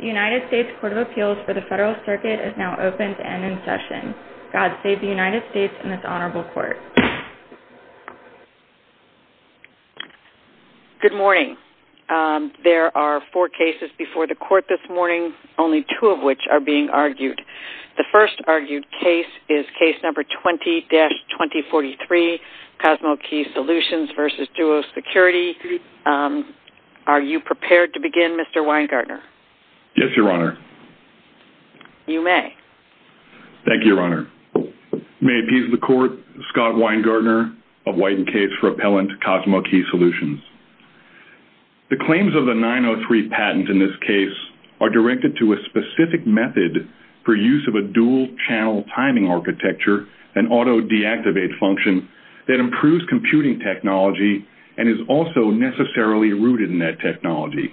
The United States Court of Appeals for the Federal Circuit is now open to end in session. God save the United States and this honorable court. Good morning. There are four cases before the court this morning, only two of which are being argued. The first argued case is case number 20-2043, CosmoKey Solutions v. Duo Security. Are you prepared to begin, Mr. Weingartner? Yes, Your Honor. You may. Thank you, Your Honor. May it please the court, Scott Weingartner of White & Case for Appellant, CosmoKey Solutions. The claims of the 903 patent in this case are directed to a specific method for use of a dual-channel timing architecture and auto-deactivate function that improves computing technology and is also necessarily rooted in that technology.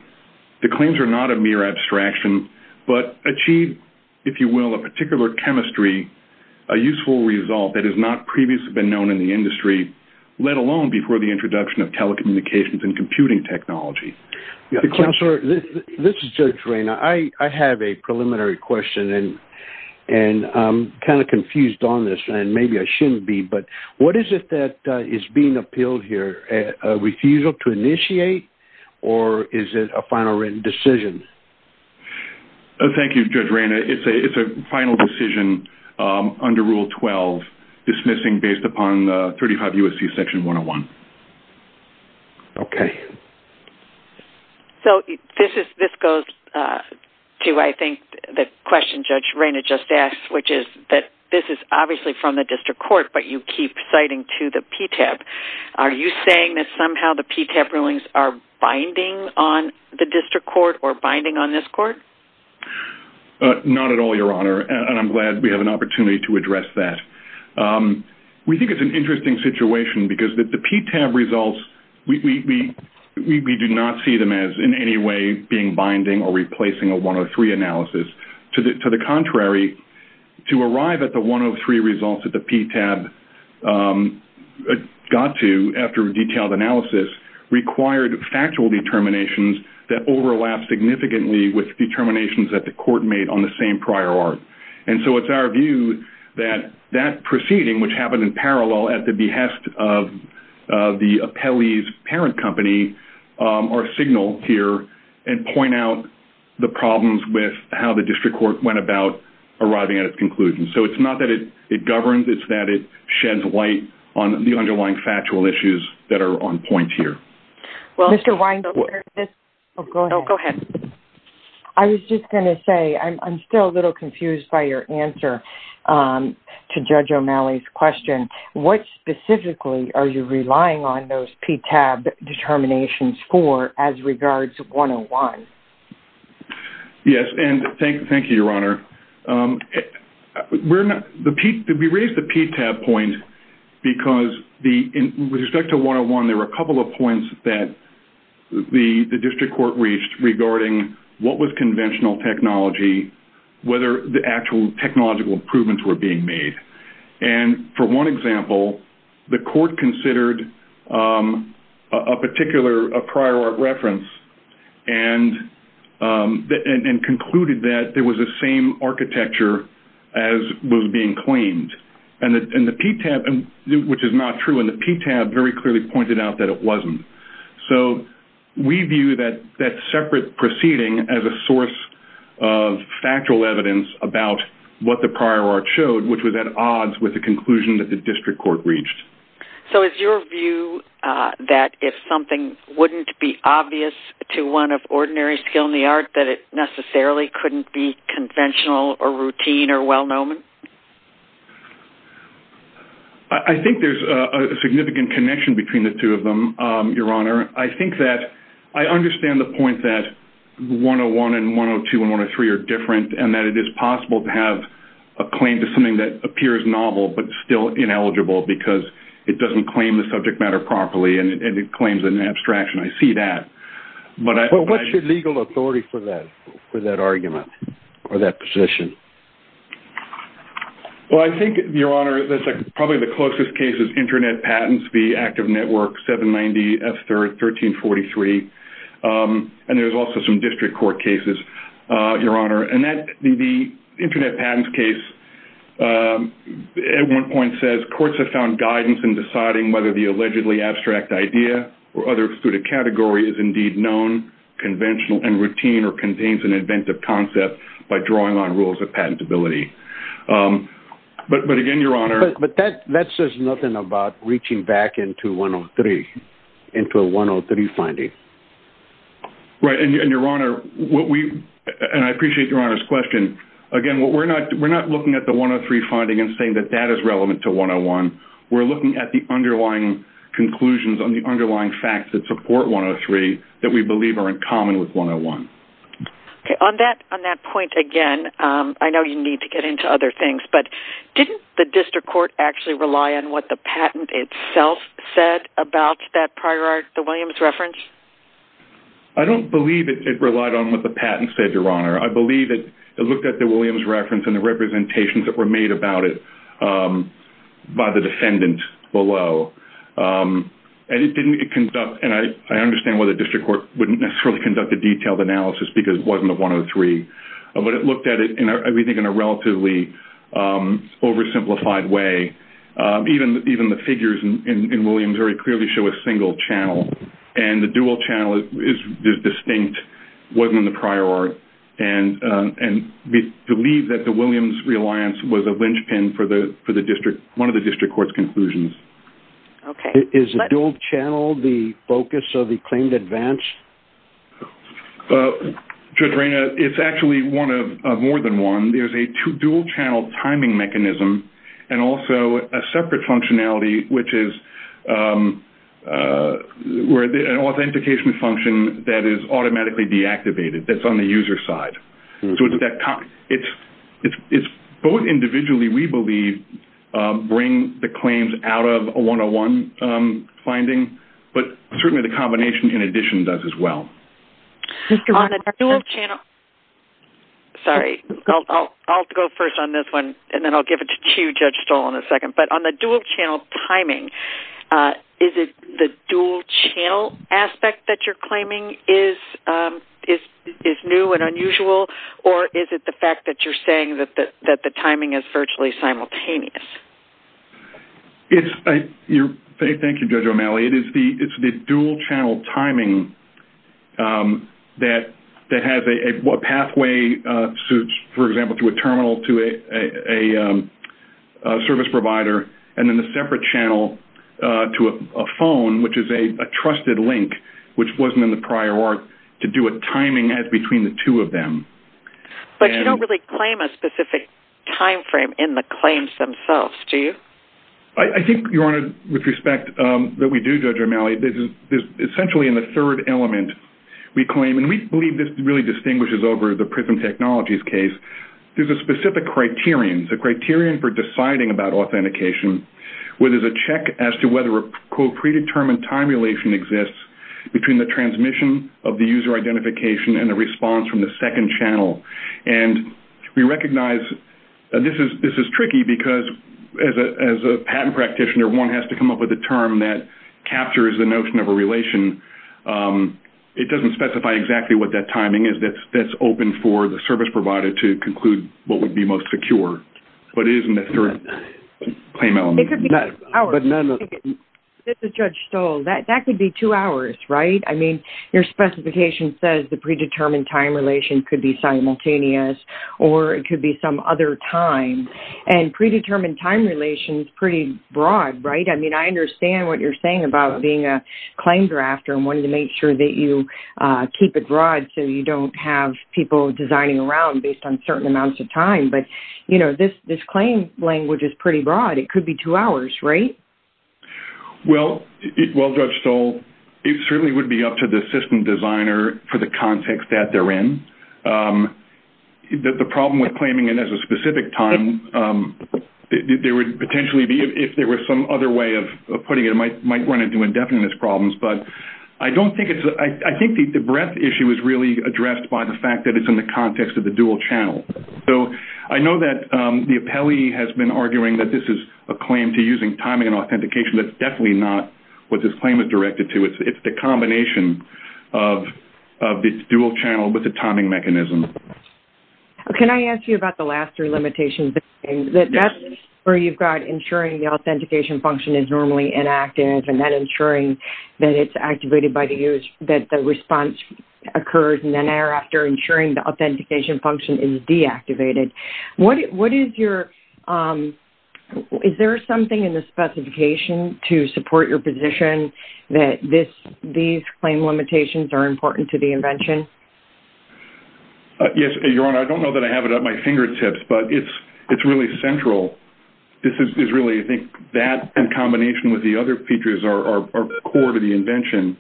The claims are not a mere abstraction but achieve, if you will, a particular chemistry, a useful result that has not previously been known in the industry, let alone before the introduction of telecommunications and computing technology. Counselor, this is Judge Ray. I have a preliminary question and I'm kind of confused on this and maybe I shouldn't be, but what is it that is being appealed here? A refusal to initiate or is it a final written decision? Thank you, Judge Ray. It's a final decision under Rule 12, dismissing based upon 35 U.S.C. Section 101. Okay. So this goes to, I think, the question Judge Rayna just asked, which is that this is obviously from the district court but you keep citing to the PTAB. Are you saying that somehow the PTAB rulings are binding on the district court or binding on this court? Not at all, Your Honor, and I'm glad we have an opportunity to address that. We think it's an interesting situation because the PTAB results, we do not see them as in any way being binding or replacing a 103 analysis. To the contrary, to arrive at the 103 results that the PTAB got to after a detailed analysis required factual determinations that overlap significantly with determinations that the court made on the same prior art. And so it's our view that that proceeding, which happened in parallel at the behest of the appellee's parent company, are signaled here and point out the problems with how the district court went about arriving at its conclusion. So it's not that it governs, it's that it sheds light on the underlying factual issues that are on point here. Well, Mr. Weinberg. Oh, go ahead. I was just going to say, I'm still a little confused by your answer to Judge O'Malley's question. What specifically are you relying on those PTAB determinations for as regards 101? Yes, and thank you, Your Honor. We raised the PTAB point because with respect to 101, there were a couple of points that the district court reached regarding what was conventional technology, whether the actual technological improvements were being made. And for one example, the court considered a particular prior art reference and concluded that there was the same architecture as was being claimed, which is not true, and the PTAB very clearly pointed out that it wasn't. So we view that separate proceeding as a source of factual evidence about what the prior art showed, which was at odds with the conclusion that the district court reached. So is your view that if something wouldn't be obvious to one of ordinary skill in the art, that it necessarily couldn't be conventional or routine or well-known? I think there's a significant connection between the two of them, Your Honor. I think that I understand the point that 101 and 102 and 103 are different and that it is possible to have a claim to something that appears novel but still ineligible because it doesn't claim the subject matter properly and it claims an abstraction. I see that. Well, what's your legal authority for that argument or that position? Well, I think, Your Honor, that's probably the closest case is Internet Patents v. Active Network 790 F3rd 1343. And there's also some district court cases, Your Honor. And the Internet Patents case at one point says courts have found guidance in deciding whether the allegedly abstract idea or other excluded category is indeed known, conventional, and routine or contains an inventive concept by drawing on rules of patentability. But again, Your Honor... That says nothing about reaching back into 103, into a 103 finding. Right. And, Your Honor, what we... And I appreciate Your Honor's question. Again, we're not looking at the 103 finding and saying that that is relevant to 101. We're looking at the underlying conclusions on the underlying facts that support 103 that we believe are in common with 101. Okay. On that point again, I know you need to get into other things, but didn't the district court actually rely on what the patent itself said about that prior art, the Williams reference? I don't believe it relied on what the patent said, Your Honor. I believe it looked at the Williams reference and the representations that were made about it by the defendant below. And it didn't conduct... And I understand why the district court wouldn't necessarily conduct a detailed analysis because it wasn't a 103. But it looked at everything in a relatively oversimplified way. Even the figures in Williams very clearly show a single channel. And the dual channel is distinct, wasn't in the prior art. And we believe that the Williams reliance was a linchpin for one of the district court's conclusions. Okay. Is the dual channel the focus of the claimed advance? Judge Reina, it's actually one of more than one. There's a dual channel timing mechanism and also a separate functionality, which is an authentication function that is automatically deactivated that's on the user side. So it's both individually, we believe, bring the claims out of a 101 finding. But certainly the combination in addition does as well. On the dual channel... Sorry. I'll go first on this one and then I'll give it to you, Judge Stoll, in a second. But on the dual channel timing, is it the dual channel aspect that you're claiming is new and unusual? Or is it the fact that you're saying that the timing is virtually simultaneous? Thank you, Judge O'Malley. It's the dual channel timing that has a pathway, for example, to a terminal, to a service provider, and then the separate channel to a phone, which is a trusted link, which wasn't in the prior art, to do a timing as between the two of them. But you don't really claim a specific timeframe in the claims themselves, do you? I think, Your Honor, with respect that we do, Judge O'Malley, this is essentially in the third element we claim. And we believe this really distinguishes over the Prism Technologies case. There's a specific criterion. It's a criterion for deciding about authentication, where there's a check as to whether a, quote, and a response from the second channel. And we recognize this is tricky because, as a patent practitioner, one has to come up with a term that captures the notion of a relation. It doesn't specify exactly what that timing is that's open for the service provider to conclude what would be most secure. But it is in the third claim element. It could be two hours. This is Judge Stoll. That could be two hours, right? I mean, your specification says the predetermined time relation could be simultaneous or it could be some other time. And predetermined time relation is pretty broad, right? I mean, I understand what you're saying about being a claim drafter and wanting to make sure that you keep it broad so you don't have people designing around based on certain amounts of time. But, you know, this claim language is pretty broad. It could be two hours, right? Well, Judge Stoll, it certainly would be up to the system designer for the context that they're in. The problem with claiming it as a specific time, there would potentially be if there were some other way of putting it, it might run into indefiniteness problems. But I think the breadth issue is really addressed by the fact that it's in the context of the dual channel. So I know that the appellee has been arguing that this is a claim to using timing and authentication. That's definitely not what this claim is directed to. It's the combination of the dual channel with the timing mechanism. Can I ask you about the last three limitations? That's where you've got ensuring the authentication function is normally inactive and then ensuring that it's activated by the user, that the response occurs, and then thereafter ensuring the authentication function is deactivated. Is there something in the specification to support your position that these claim limitations are important to the invention? Yes, Your Honor. I don't know that I have it at my fingertips, but it's really central. This is really, I think, that in combination with the other features are core to the invention.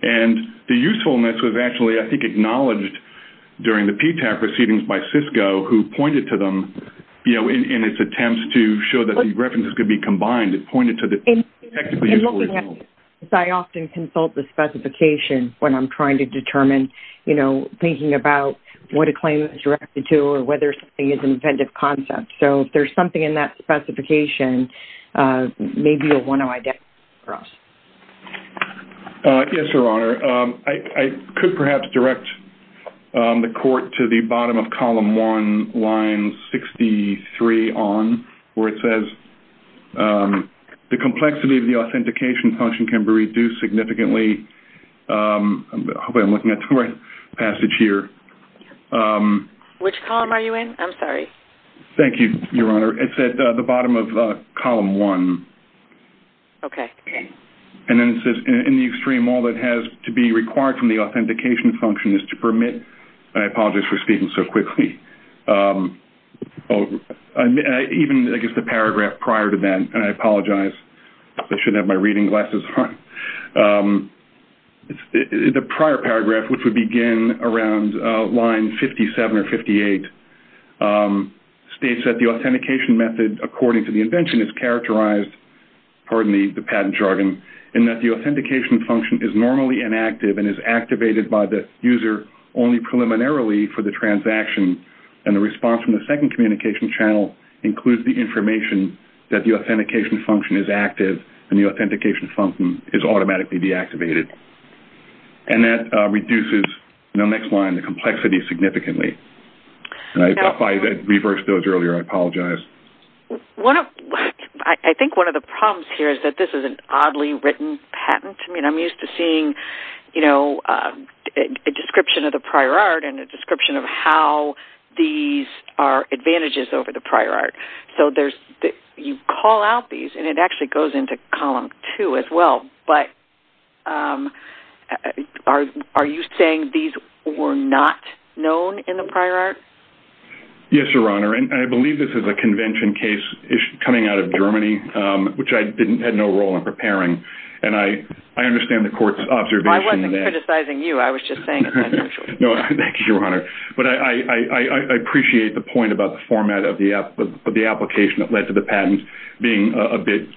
And the usefulness was actually, I think, acknowledged during the PTAP proceedings by Cisco who pointed to them in its attempts to show that the references could be combined. It pointed to the technically useful results. I often consult the specification when I'm trying to determine, you know, thinking about what a claim is directed to or whether something is an inventive concept. So if there's something in that specification, maybe you'll want to identify for us. Yes, Your Honor. I could perhaps direct the court to the bottom of column one, line 63 on, where it says, the complexity of the authentication function can be reduced significantly. Hopefully I'm looking at the right passage here. Which column are you in? I'm sorry. Thank you, Your Honor. It's at the bottom of column one. Okay. And then it says, in the extreme, all that has to be required from the authentication function is to permit. I apologize for speaking so quickly. Even, I guess, the paragraph prior to that, and I apologize. I shouldn't have my reading glasses on. The prior paragraph, which would begin around line 57 or 58, states that the authentication method, according to the invention, is characterized, pardon me, the patent jargon, in that the authentication function is normally inactive and is activated by the user only preliminarily for the transaction. And the response from the second communication channel includes the information that the authentication function is active and the authentication function is automatically deactivated. And that reduces, next line, the complexity significantly. If I had reversed those earlier, I apologize. I think one of the problems here is that this is an oddly written patent. I mean, I'm used to seeing a description of the prior art and a description of how these are advantages over the prior art. So you call out these, and it actually goes into column two as well. But are you saying these were not known in the prior art? Yes, Your Honor. And I believe this is a convention case coming out of Germany, which I had no role in preparing. And I understand the court's observation that— I wasn't criticizing you. I was just saying— No, thank you, Your Honor. But I appreciate the point about the format of the application that led to the patent being a bit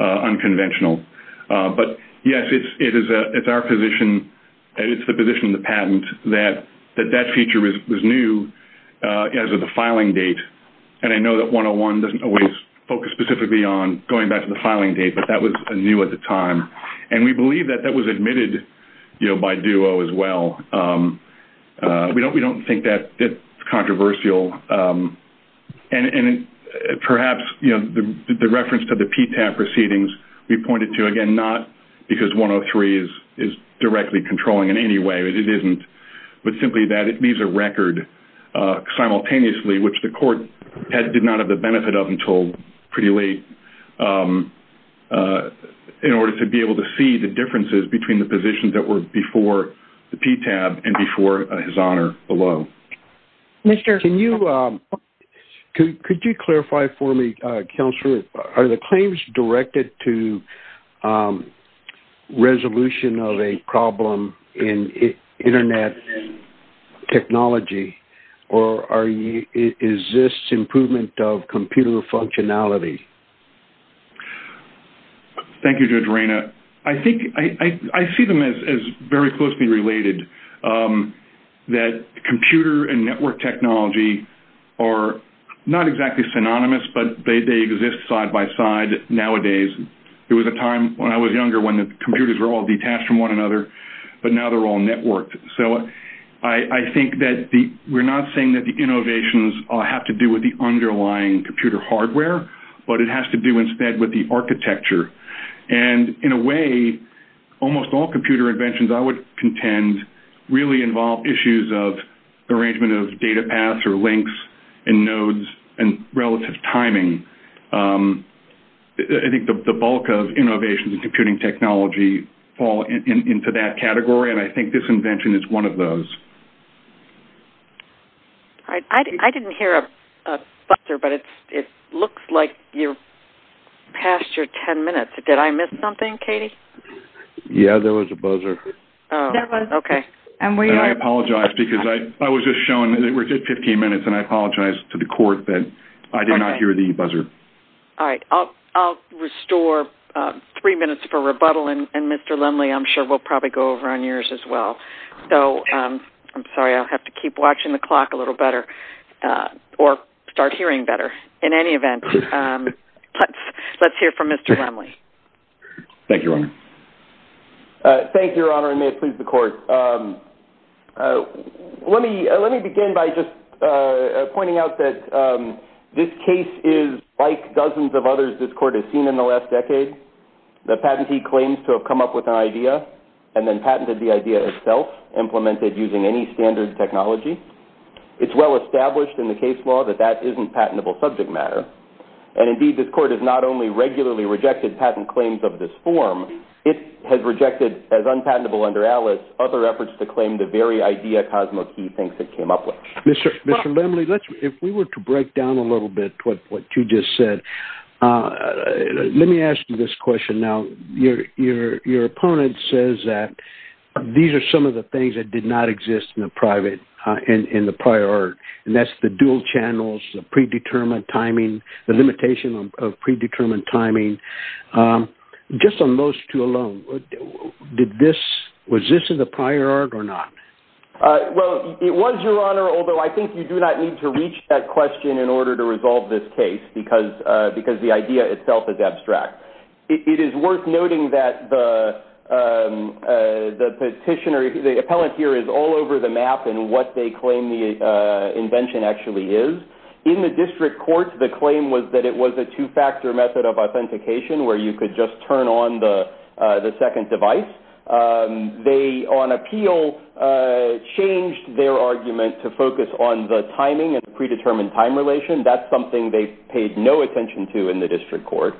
unconventional. But, yes, it's our position, and it's the position of the patent, that that feature was new as of the filing date. And I know that 101 doesn't always focus specifically on going back to the filing date, but that was new at the time. And we believe that that was admitted by Duo as well. We don't think that it's controversial. And perhaps the reference to the PTAP proceedings we pointed to, again, not because 103 is directly controlling in any way, it isn't, but simply that it leaves a record simultaneously, which the court did not have the benefit of until pretty late, in order to be able to see the differences between the positions that were before the PTAP and before His Honor below. Mr. Can you clarify for me, Counselor, are the claims directed to resolution of a problem in Internet technology, or is this improvement of computer functionality? Thank you, Judge Reyna. I think I see them as very closely related, that computer and network technology are not exactly synonymous, but they exist side by side nowadays. There was a time when I was younger when the computers were all detached from one another, but now they're all networked. So I think that we're not saying that the innovations have to do with the underlying computer hardware, but it has to do instead with the architecture. And in a way, almost all computer inventions, I would contend, really involve issues of arrangement of data paths or links and nodes and relative timing. I think the bulk of innovations in computing technology fall into that category, and I think this invention is one of those. I didn't hear a buzzer, but it looks like you're past your 10 minutes. Did I miss something, Katie? Yeah, there was a buzzer. Oh, okay. And I apologize, because I was just showing that we're at 15 minutes, and I apologize to the Court that I did not hear the buzzer. All right. I'll restore three minutes for rebuttal, and, Mr. Lindley, I'm sure we'll probably go over on yours as well. I'm sorry, I'll have to keep watching the clock a little better, or start hearing better. In any event, let's hear from Mr. Lindley. Thank you, Your Honor. Thank you, Your Honor, and may it please the Court. Let me begin by just pointing out that this case is like dozens of others this Court has seen in the last decade. The patentee claims to have come up with an idea and then patented the idea itself, implemented using any standard technology. It's well established in the case law that that isn't patentable subject matter, and, indeed, this Court has not only regularly rejected patent claims of this form, it has rejected, as unpatentable under Alice, other efforts to claim the very idea Cosmo Key thinks it came up with. Mr. Lindley, if we were to break down a little bit what you just said, let me ask you this question now. Your opponent says that these are some of the things that did not exist in the prior art, and that's the dual channels, the predetermined timing, the limitation of predetermined timing. Just on those two alone, was this in the prior art or not? Well, it was, Your Honor, although I think you do not need to reach that question in order to resolve this case because the idea itself is abstract. It is worth noting that the petitioner, the appellant here, is all over the map in what they claim the invention actually is. In the district court, the claim was that it was a two-factor method of authentication where you could just turn on the second device. They, on appeal, changed their argument to focus on the timing and predetermined time relation. That's something they paid no attention to in the district court.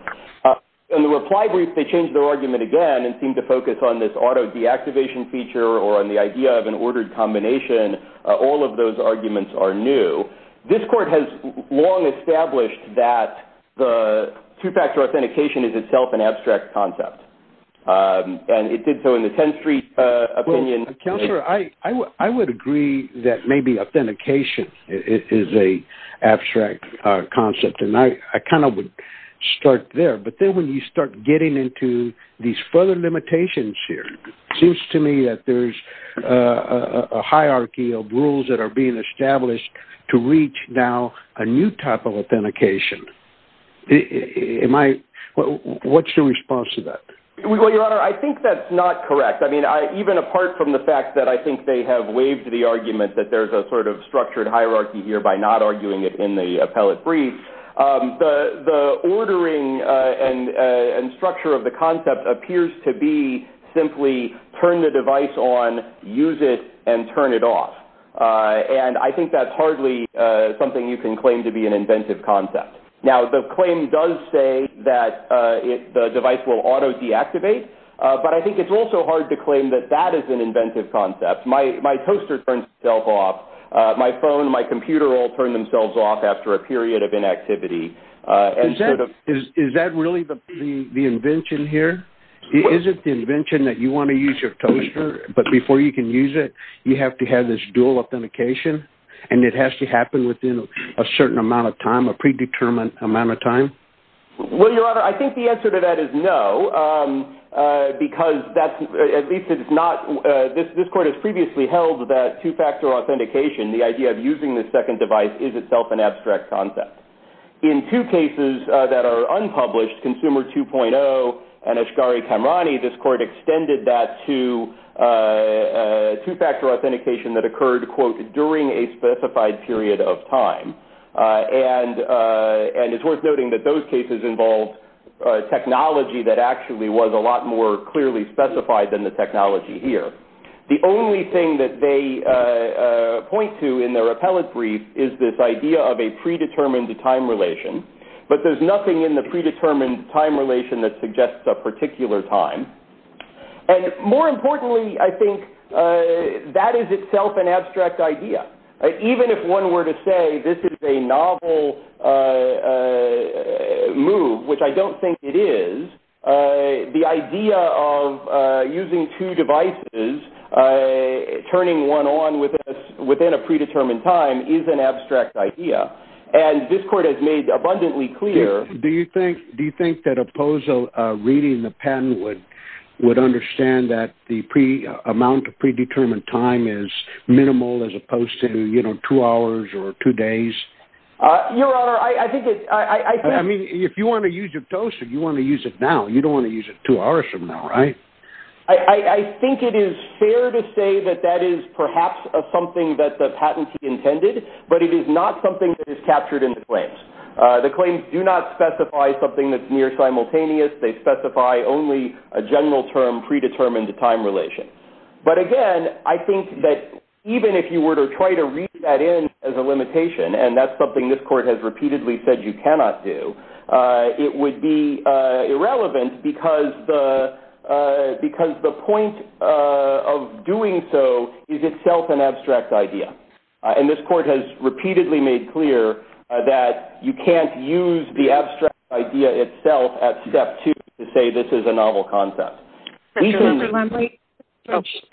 In the reply brief, they changed their argument again and seemed to focus on this auto-deactivation feature or on the idea of an ordered combination. All of those arguments are new. This court has long established that the two-factor authentication is itself an abstract concept, and it did so in the 10th Street opinion. Counselor, I would agree that maybe authentication is an abstract concept, and I kind of would start there. But then when you start getting into these further limitations here, it seems to me that there's a hierarchy of rules that are being established to reach now a new type of authentication. What's your response to that? Well, Your Honor, I think that's not correct. I mean, even apart from the fact that I think they have waived the argument that there's a sort of structured hierarchy here by not arguing it in the appellate brief, the ordering and structure of the concept appears to be simply turn the device on, use it, and turn it off. And I think that's hardly something you can claim to be an inventive concept. Now, the claim does say that the device will auto-deactivate, but I think it's also hard to claim that that is an inventive concept. My toaster turns itself off. My phone and my computer all turn themselves off after a period of inactivity. Is that really the invention here? Is it the invention that you want to use your toaster, but before you can use it, you have to have this dual authentication, and it has to happen within a certain amount of time, a predetermined amount of time? Well, Your Honor, I think the answer to that is no, because at least it's not this. This Court has previously held that two-factor authentication, the idea of using the second device, is itself an abstract concept. In two cases that are unpublished, Consumer 2.0 and Ashgari-Kamrani, this Court extended that to two-factor authentication that occurred, quote, during a specified period of time. And it's worth noting that those cases involved technology that actually was a lot more clearly specified than the technology here. The only thing that they point to in their appellate brief is this idea of a predetermined time relation, but there's nothing in the predetermined time relation that suggests a particular time. And more importantly, I think that is itself an abstract idea. Even if one were to say this is a novel move, which I don't think it is, the idea of using two devices, turning one on within a predetermined time, is an abstract idea. And this Court has made abundantly clear... Do you think that a POSO reading the patent would understand that the amount of predetermined time is minimal as opposed to, you know, two hours or two days? Your Honor, I think it's... I mean, if you want to use your POSO, you want to use it now. You don't want to use it two hours from now, right? I think it is fair to say that that is perhaps something that the patentee intended, but it is not something that is captured in the claims. The claims do not specify something that's near simultaneous. They specify only a general term, predetermined time relation. But again, I think that even if you were to try to read that in as a limitation, and that's something this Court has repeatedly said you cannot do, it would be irrelevant because the point of doing so is itself an abstract idea. And this Court has repeatedly made clear that you can't use the abstract idea itself at step two to say this is a novel concept.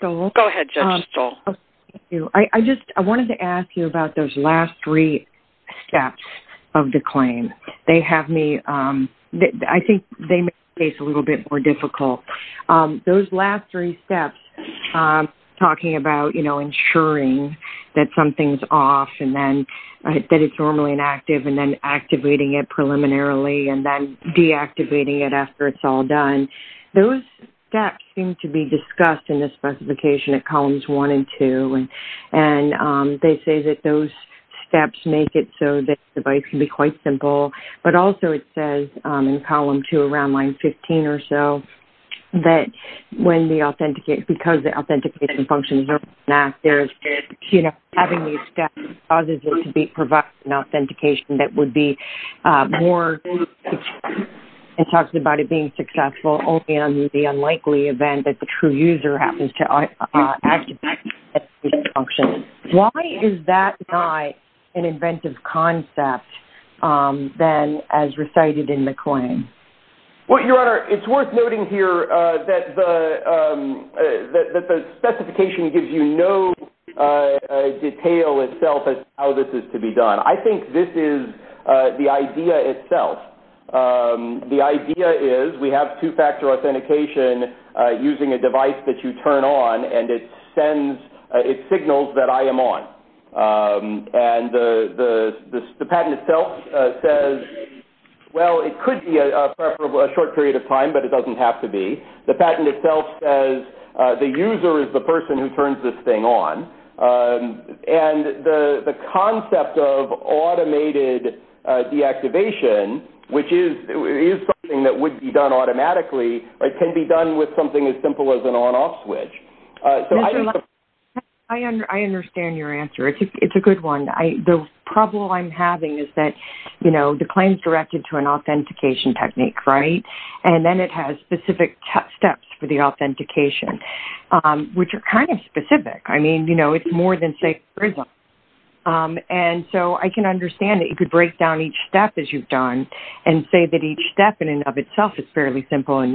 Go ahead, Judge Stoll. Thank you. I just wanted to ask you about those last three steps of the claim. They have me... I think they make the case a little bit more difficult. Those last three steps, talking about, you know, ensuring that something's off and then that it's normally inactive and then activating it preliminarily and then deactivating it after it's all done, those steps seem to be discussed in the specification at columns one and two. And they say that those steps make it so that the device can be quite simple. But also it says in column two, around line 15 or so, that because the authentication functions are not there, you know, having these steps causes it to be provided an authentication that would be more successful. It talks about it being successful only under the unlikely event that the true user happens to activate that function. Why is that not an inventive concept then as recited in the claim? Well, Your Honor, it's worth noting here that the specification gives you no detail itself as to how this is to be done. I think this is the idea itself. The idea is we have two-factor authentication using a device that you turn on and it signals that I am on. And the patent itself says, well, it could be a short period of time, but it doesn't have to be. The patent itself says the user is the person who turns this thing on. And the concept of automated deactivation, which is something that would be done automatically, can be done with something as simple as an on-off switch. I understand your answer. It's a good one. The problem I'm having is that, you know, the claim is directed to an authentication technique, right? And then it has specific steps for the authentication, which are kind of specific. I mean, you know, it's more than, say, a prism. And so I can understand that you could break down each step, as you've done, and say that each step in and of itself is fairly simple and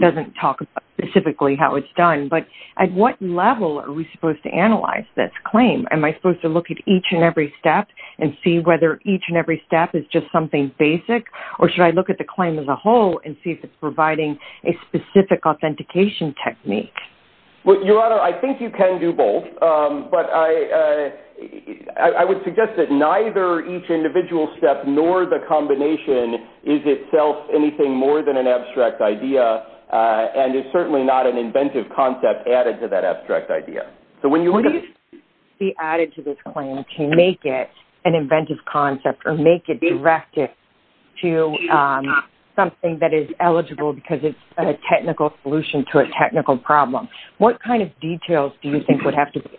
doesn't talk about specifically how it's done. But at what level are we supposed to analyze this claim? Am I supposed to look at each and every step and see whether each and every step is just something basic? Or should I look at the claim as a whole and see if it's providing a specific authentication technique? Well, Your Honor, I think you can do both. But I would suggest that neither each individual step nor the combination is itself anything more than an abstract idea and is certainly not an inventive concept added to that abstract idea. So when you look at it. What would be added to this claim to make it an inventive concept or make it directed to something that is eligible because it's a technical solution to a technical problem? What kind of details do you think would have to be?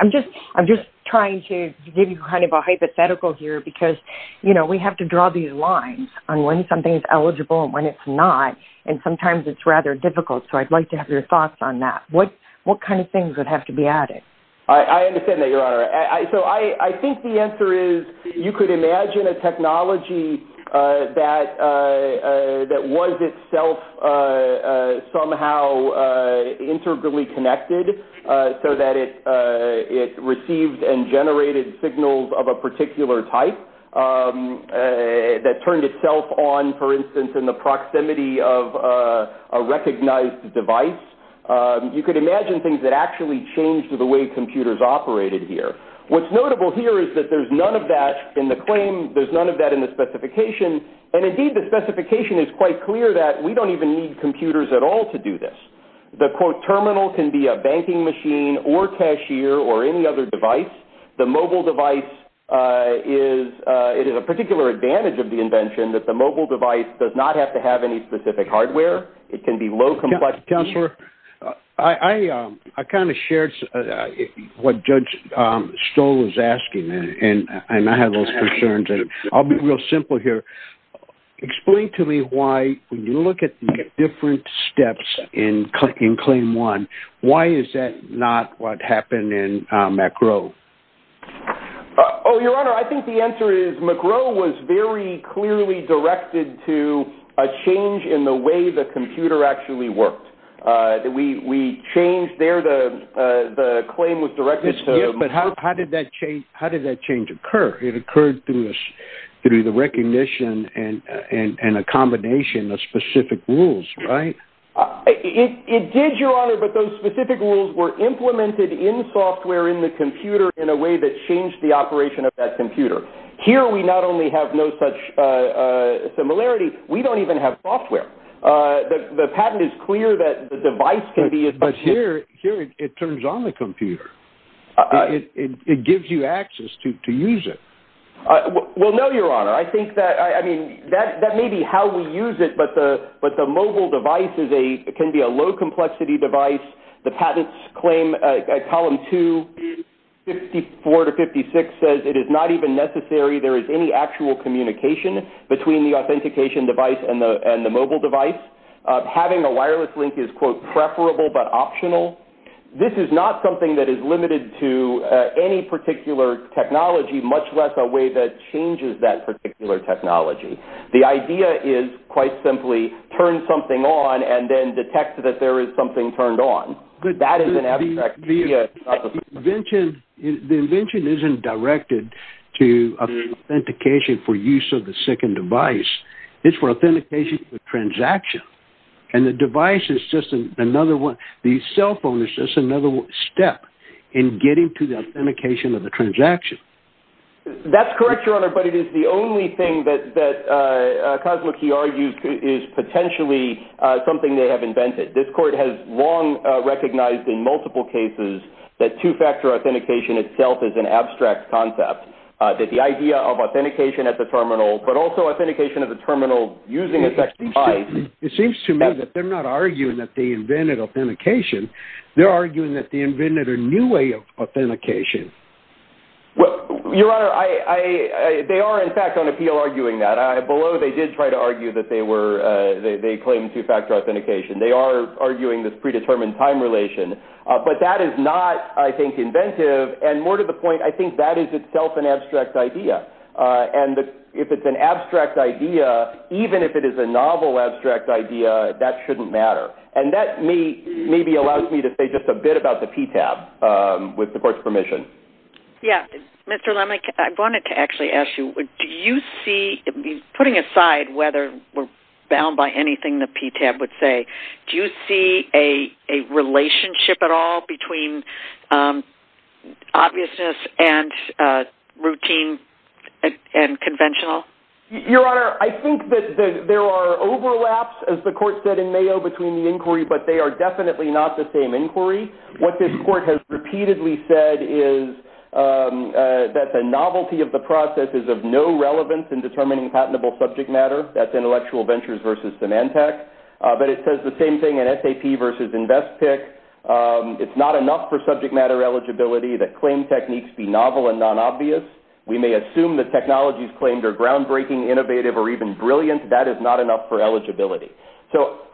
I'm just trying to give you kind of a hypothetical here because, you know, we have to draw these lines on when something is eligible and when it's not. And sometimes it's rather difficult. So I'd like to have your thoughts on that. What kind of things would have to be added? I understand that, Your Honor. So I think the answer is you could imagine a technology that was itself somehow integrally connected so that it received and generated signals of a particular type that turned itself on, for instance, in the proximity of a recognized device. You could imagine things that actually changed the way computers operated here. What's notable here is that there's none of that in the claim. There's none of that in the specification. And, indeed, the specification is quite clear that we don't even need computers at all to do this. The, quote, terminal can be a banking machine or cashier or any other device. The mobile device is a particular advantage of the invention that the mobile device does not have to have any specific hardware. It can be low complexity. Counselor, I kind of shared what Judge Stoll was asking, and I have those concerns. I'll be real simple here. Explain to me why, when you look at the different steps in Claim 1, why is that not what happened in Macro? Oh, Your Honor, I think the answer is Macro was very clearly directed to a change in the way the computer actually worked. We changed there. The claim was directed to Macro. Yes, but how did that change occur? It occurred through the recognition and a combination of specific rules, right? It did, Your Honor, but those specific rules were implemented in software in the computer in a way that changed the operation of that computer. Here, we not only have no such similarity, we don't even have software. The patent is clear that the device can be as much as... But here it turns on the computer. It gives you access to use it. Well, no, Your Honor. I think that, I mean, that may be how we use it, but the mobile device can be a low-complexity device. The patents claim, Column 2, 54 to 56, says, it is not even necessary there is any actual communication between the authentication device and the mobile device. Having a wireless link is, quote, preferable but optional. This is not something that is limited to any particular technology, much less a way that changes that particular technology. The idea is, quite simply, turn something on and then detect that there is something turned on. That is an abstract idea. The invention isn't directed to authentication for use of the second device. It's for authentication of the transaction, and the device is just another one. The cell phone is just another step in getting to the authentication of the transaction. That's correct, Your Honor, but it is the only thing that Cosmokey argues is potentially something they have invented. This Court has long recognized in multiple cases that two-factor authentication itself is an abstract concept, that the idea of authentication at the terminal, but also authentication at the terminal using a second device. It seems to me that they're not arguing that they invented authentication. They're arguing that they invented a new way of authentication. Your Honor, they are, in fact, on appeal arguing that. Below, they did try to argue that they claim two-factor authentication. They are arguing this predetermined time relation, but that is not, I think, inventive. More to the point, I think that is itself an abstract idea. If it's an abstract idea, even if it is a novel abstract idea, that shouldn't matter. That maybe allows me to say just a bit about the PTAB, with the Court's permission. Yes, Mr. Lemick, I wanted to actually ask you, do you see, putting aside whether we're bound by anything the PTAB would say, do you see a relationship at all between obviousness and routine and conventional? Your Honor, I think that there are overlaps, as the Court said in Mayo, between the inquiry, but they are definitely not the same inquiry. What this Court has repeatedly said is that the novelty of the process is of no relevance in determining patentable subject matter. That's Intellectual Ventures v. Symantec. But it says the same thing in SAP v. Investpick. It's not enough for subject matter eligibility that claim techniques be novel and non-obvious. We may assume that technologies claimed are groundbreaking, innovative, or even brilliant. That is not enough for eligibility.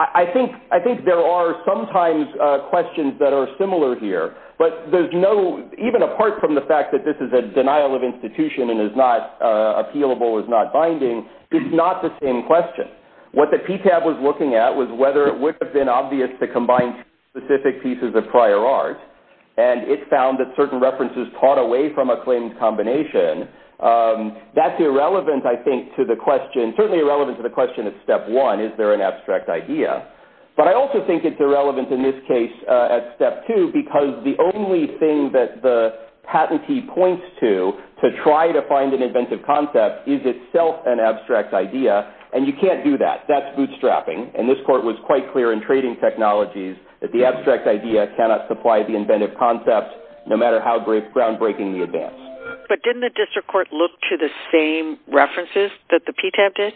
I think there are sometimes questions that are similar here, but even apart from the fact that this is a denial of institution and is not appealable, is not binding, it's not the same question. What the PTAB was looking at was whether it would have been obvious to combine two specific pieces of prior art, and it found that certain references taught away from a claimed combination. That's irrelevant, I think, to the question. At step one, is there an abstract idea? But I also think it's irrelevant in this case at step two because the only thing that the patentee points to to try to find an inventive concept is itself an abstract idea, and you can't do that. That's bootstrapping, and this Court was quite clear in trading technologies that the abstract idea cannot supply the inventive concept no matter how groundbreaking the advance. But didn't the District Court look to the same references that the PTAB did?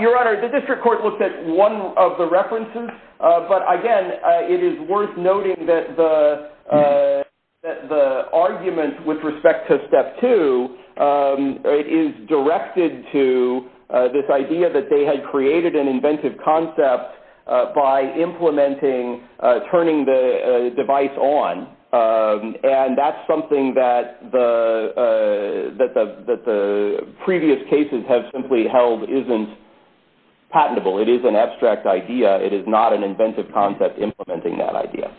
Your Honor, the District Court looked at one of the references, but again, it is worth noting that the argument with respect to step two is directed to this idea that they had created an inventive concept by implementing turning the device on, and that's something that the previous cases have simply held isn't patentable. It is an abstract idea. It is not an inventive concept implementing that idea.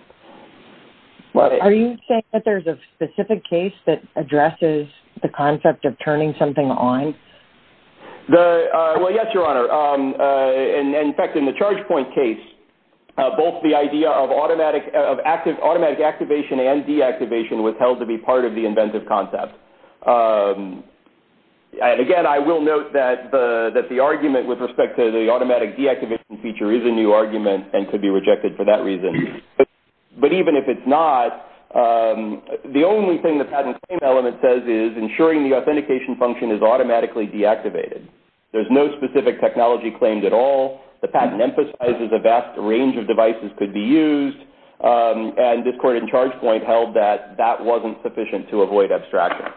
Are you saying that there's a specific case that addresses the concept of turning something on? Well, yes, Your Honor. In fact, in the ChargePoint case, both the idea of automatic activation and deactivation was held to be part of the inventive concept. Again, I will note that the argument with respect to the automatic deactivation feature is a new argument and could be rejected for that reason. But even if it's not, the only thing the patent claim element says is ensuring the authentication function is automatically deactivated. There's no specific technology claimed at all. The patent emphasizes a vast range of devices could be used, and this court in ChargePoint held that that wasn't sufficient to avoid abstraction.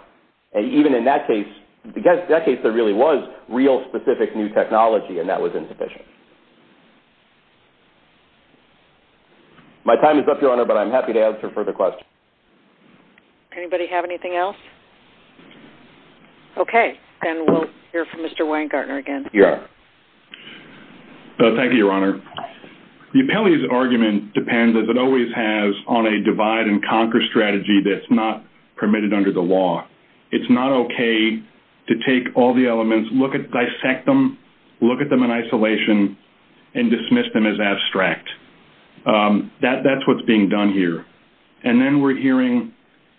Even in that case, there really was real specific new technology, and that was insufficient. My time is up, Your Honor, but I'm happy to answer further questions. Anybody have anything else? Okay, then we'll hear from Mr. Weingartner again. Thank you, Your Honor. The appellee's argument depends, as it always has, on a divide-and-conquer strategy that's not permitted under the law. It's not okay to take all the elements, dissect them, look at them in isolation, and dismiss them as abstract. That's what's being done here. And then we're hearing,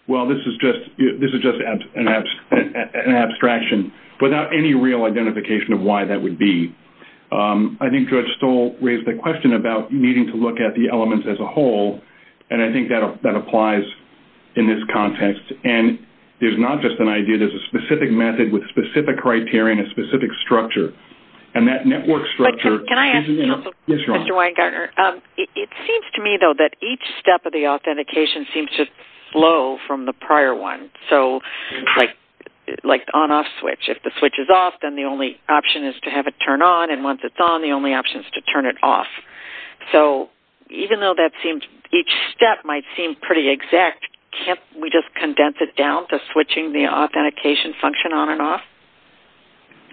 well, this is just an abstraction without any real identification of why that would be. I think Judge Stoll raised the question about needing to look at the elements as a whole, and I think that applies in this context. And there's not just an idea. There's a specific method with a specific criterion, a specific structure. And that network structure is an issue. Can I ask, also, Mr. Weingartner? Yes, Your Honor. It seems to me, though, that each step of the authentication seems to flow from the prior one, like the on-off switch. If the switch is off, then the only option is to have it turn on, and once it's on, the only option is to turn it off. So even though each step might seem pretty exact, can't we just condense it down to switching the authentication function on and off?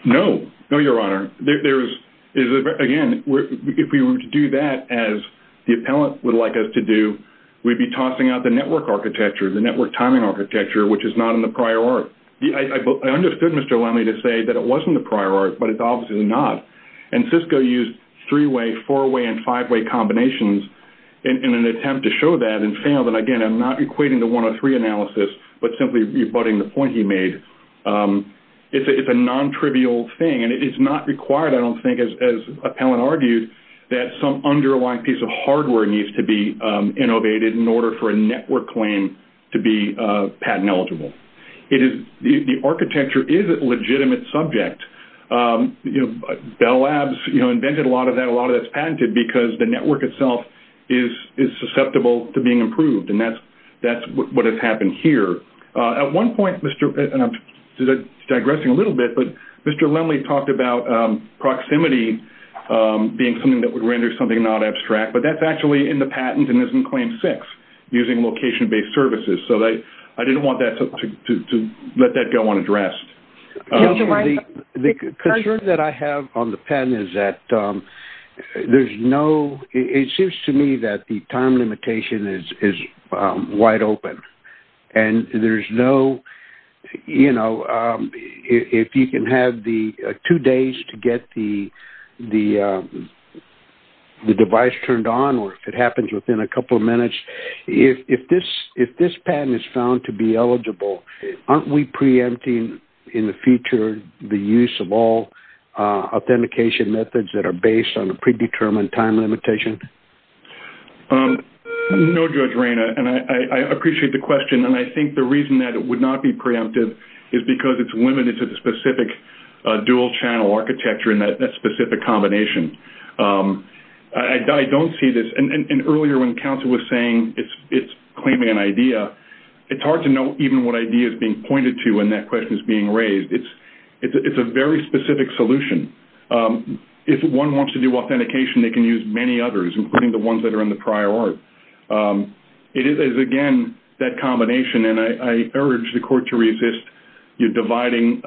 No. No, Your Honor. Again, if we were to do that as the appellant would like us to do, we'd be tossing out the network architecture, the network timing architecture, which is not in the prior art. I understood Mr. Lemme to say that it was in the prior art, but it's obviously not. And Cisco used three-way, four-way, and five-way combinations in an attempt to show that and failed, and, again, I'm not equating the 103 analysis, but simply rebutting the point he made. It's a non-trivial thing, and it's not required, I don't think, as appellant argued, that some underlying piece of hardware needs to be innovated in order for a network claim to be patent eligible. The architecture is a legitimate subject. Bell Labs invented a lot of that, a lot of that's patented, because the network itself is susceptible to being improved, and that's what has happened here. At one point, Mr. – and I'm digressing a little bit, but Mr. Lemme talked about proximity being something that would render something not abstract, but that's actually in the patent and is in Claim 6, using location-based services. So I didn't want to let that go unaddressed. The concern that I have on the patent is that there's no – it seems to me that the time limitation is And there's no – if you can have the two days to get the device turned on, or if it happens within a couple of minutes, if this patent is found to be eligible, aren't we preempting in the future the use of all authentication methods that are based on a predetermined time limitation? No, Judge Reina, and I appreciate the question, and I think the reason that it would not be preemptive is because it's limited to the specific dual-channel architecture and that specific combination. I don't see this – and earlier when Council was saying it's claiming an idea, it's hard to know even what idea is being pointed to when that question is being raised. It's a very specific solution. If one wants to do authentication, they can use many others, including the ones that are in the prior art. It is, again, that combination, and I urge the Court to resist dividing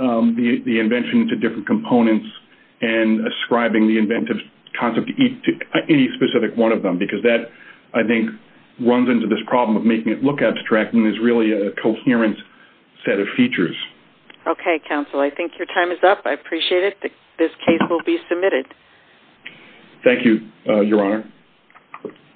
the invention into different components and ascribing the inventive concept to any specific one of them, because that, I think, runs into this problem of making it look abstract and is really a coherent set of features. Okay, Council, I think your time is up. I appreciate it. This case will be submitted. Thank you, Your Honor.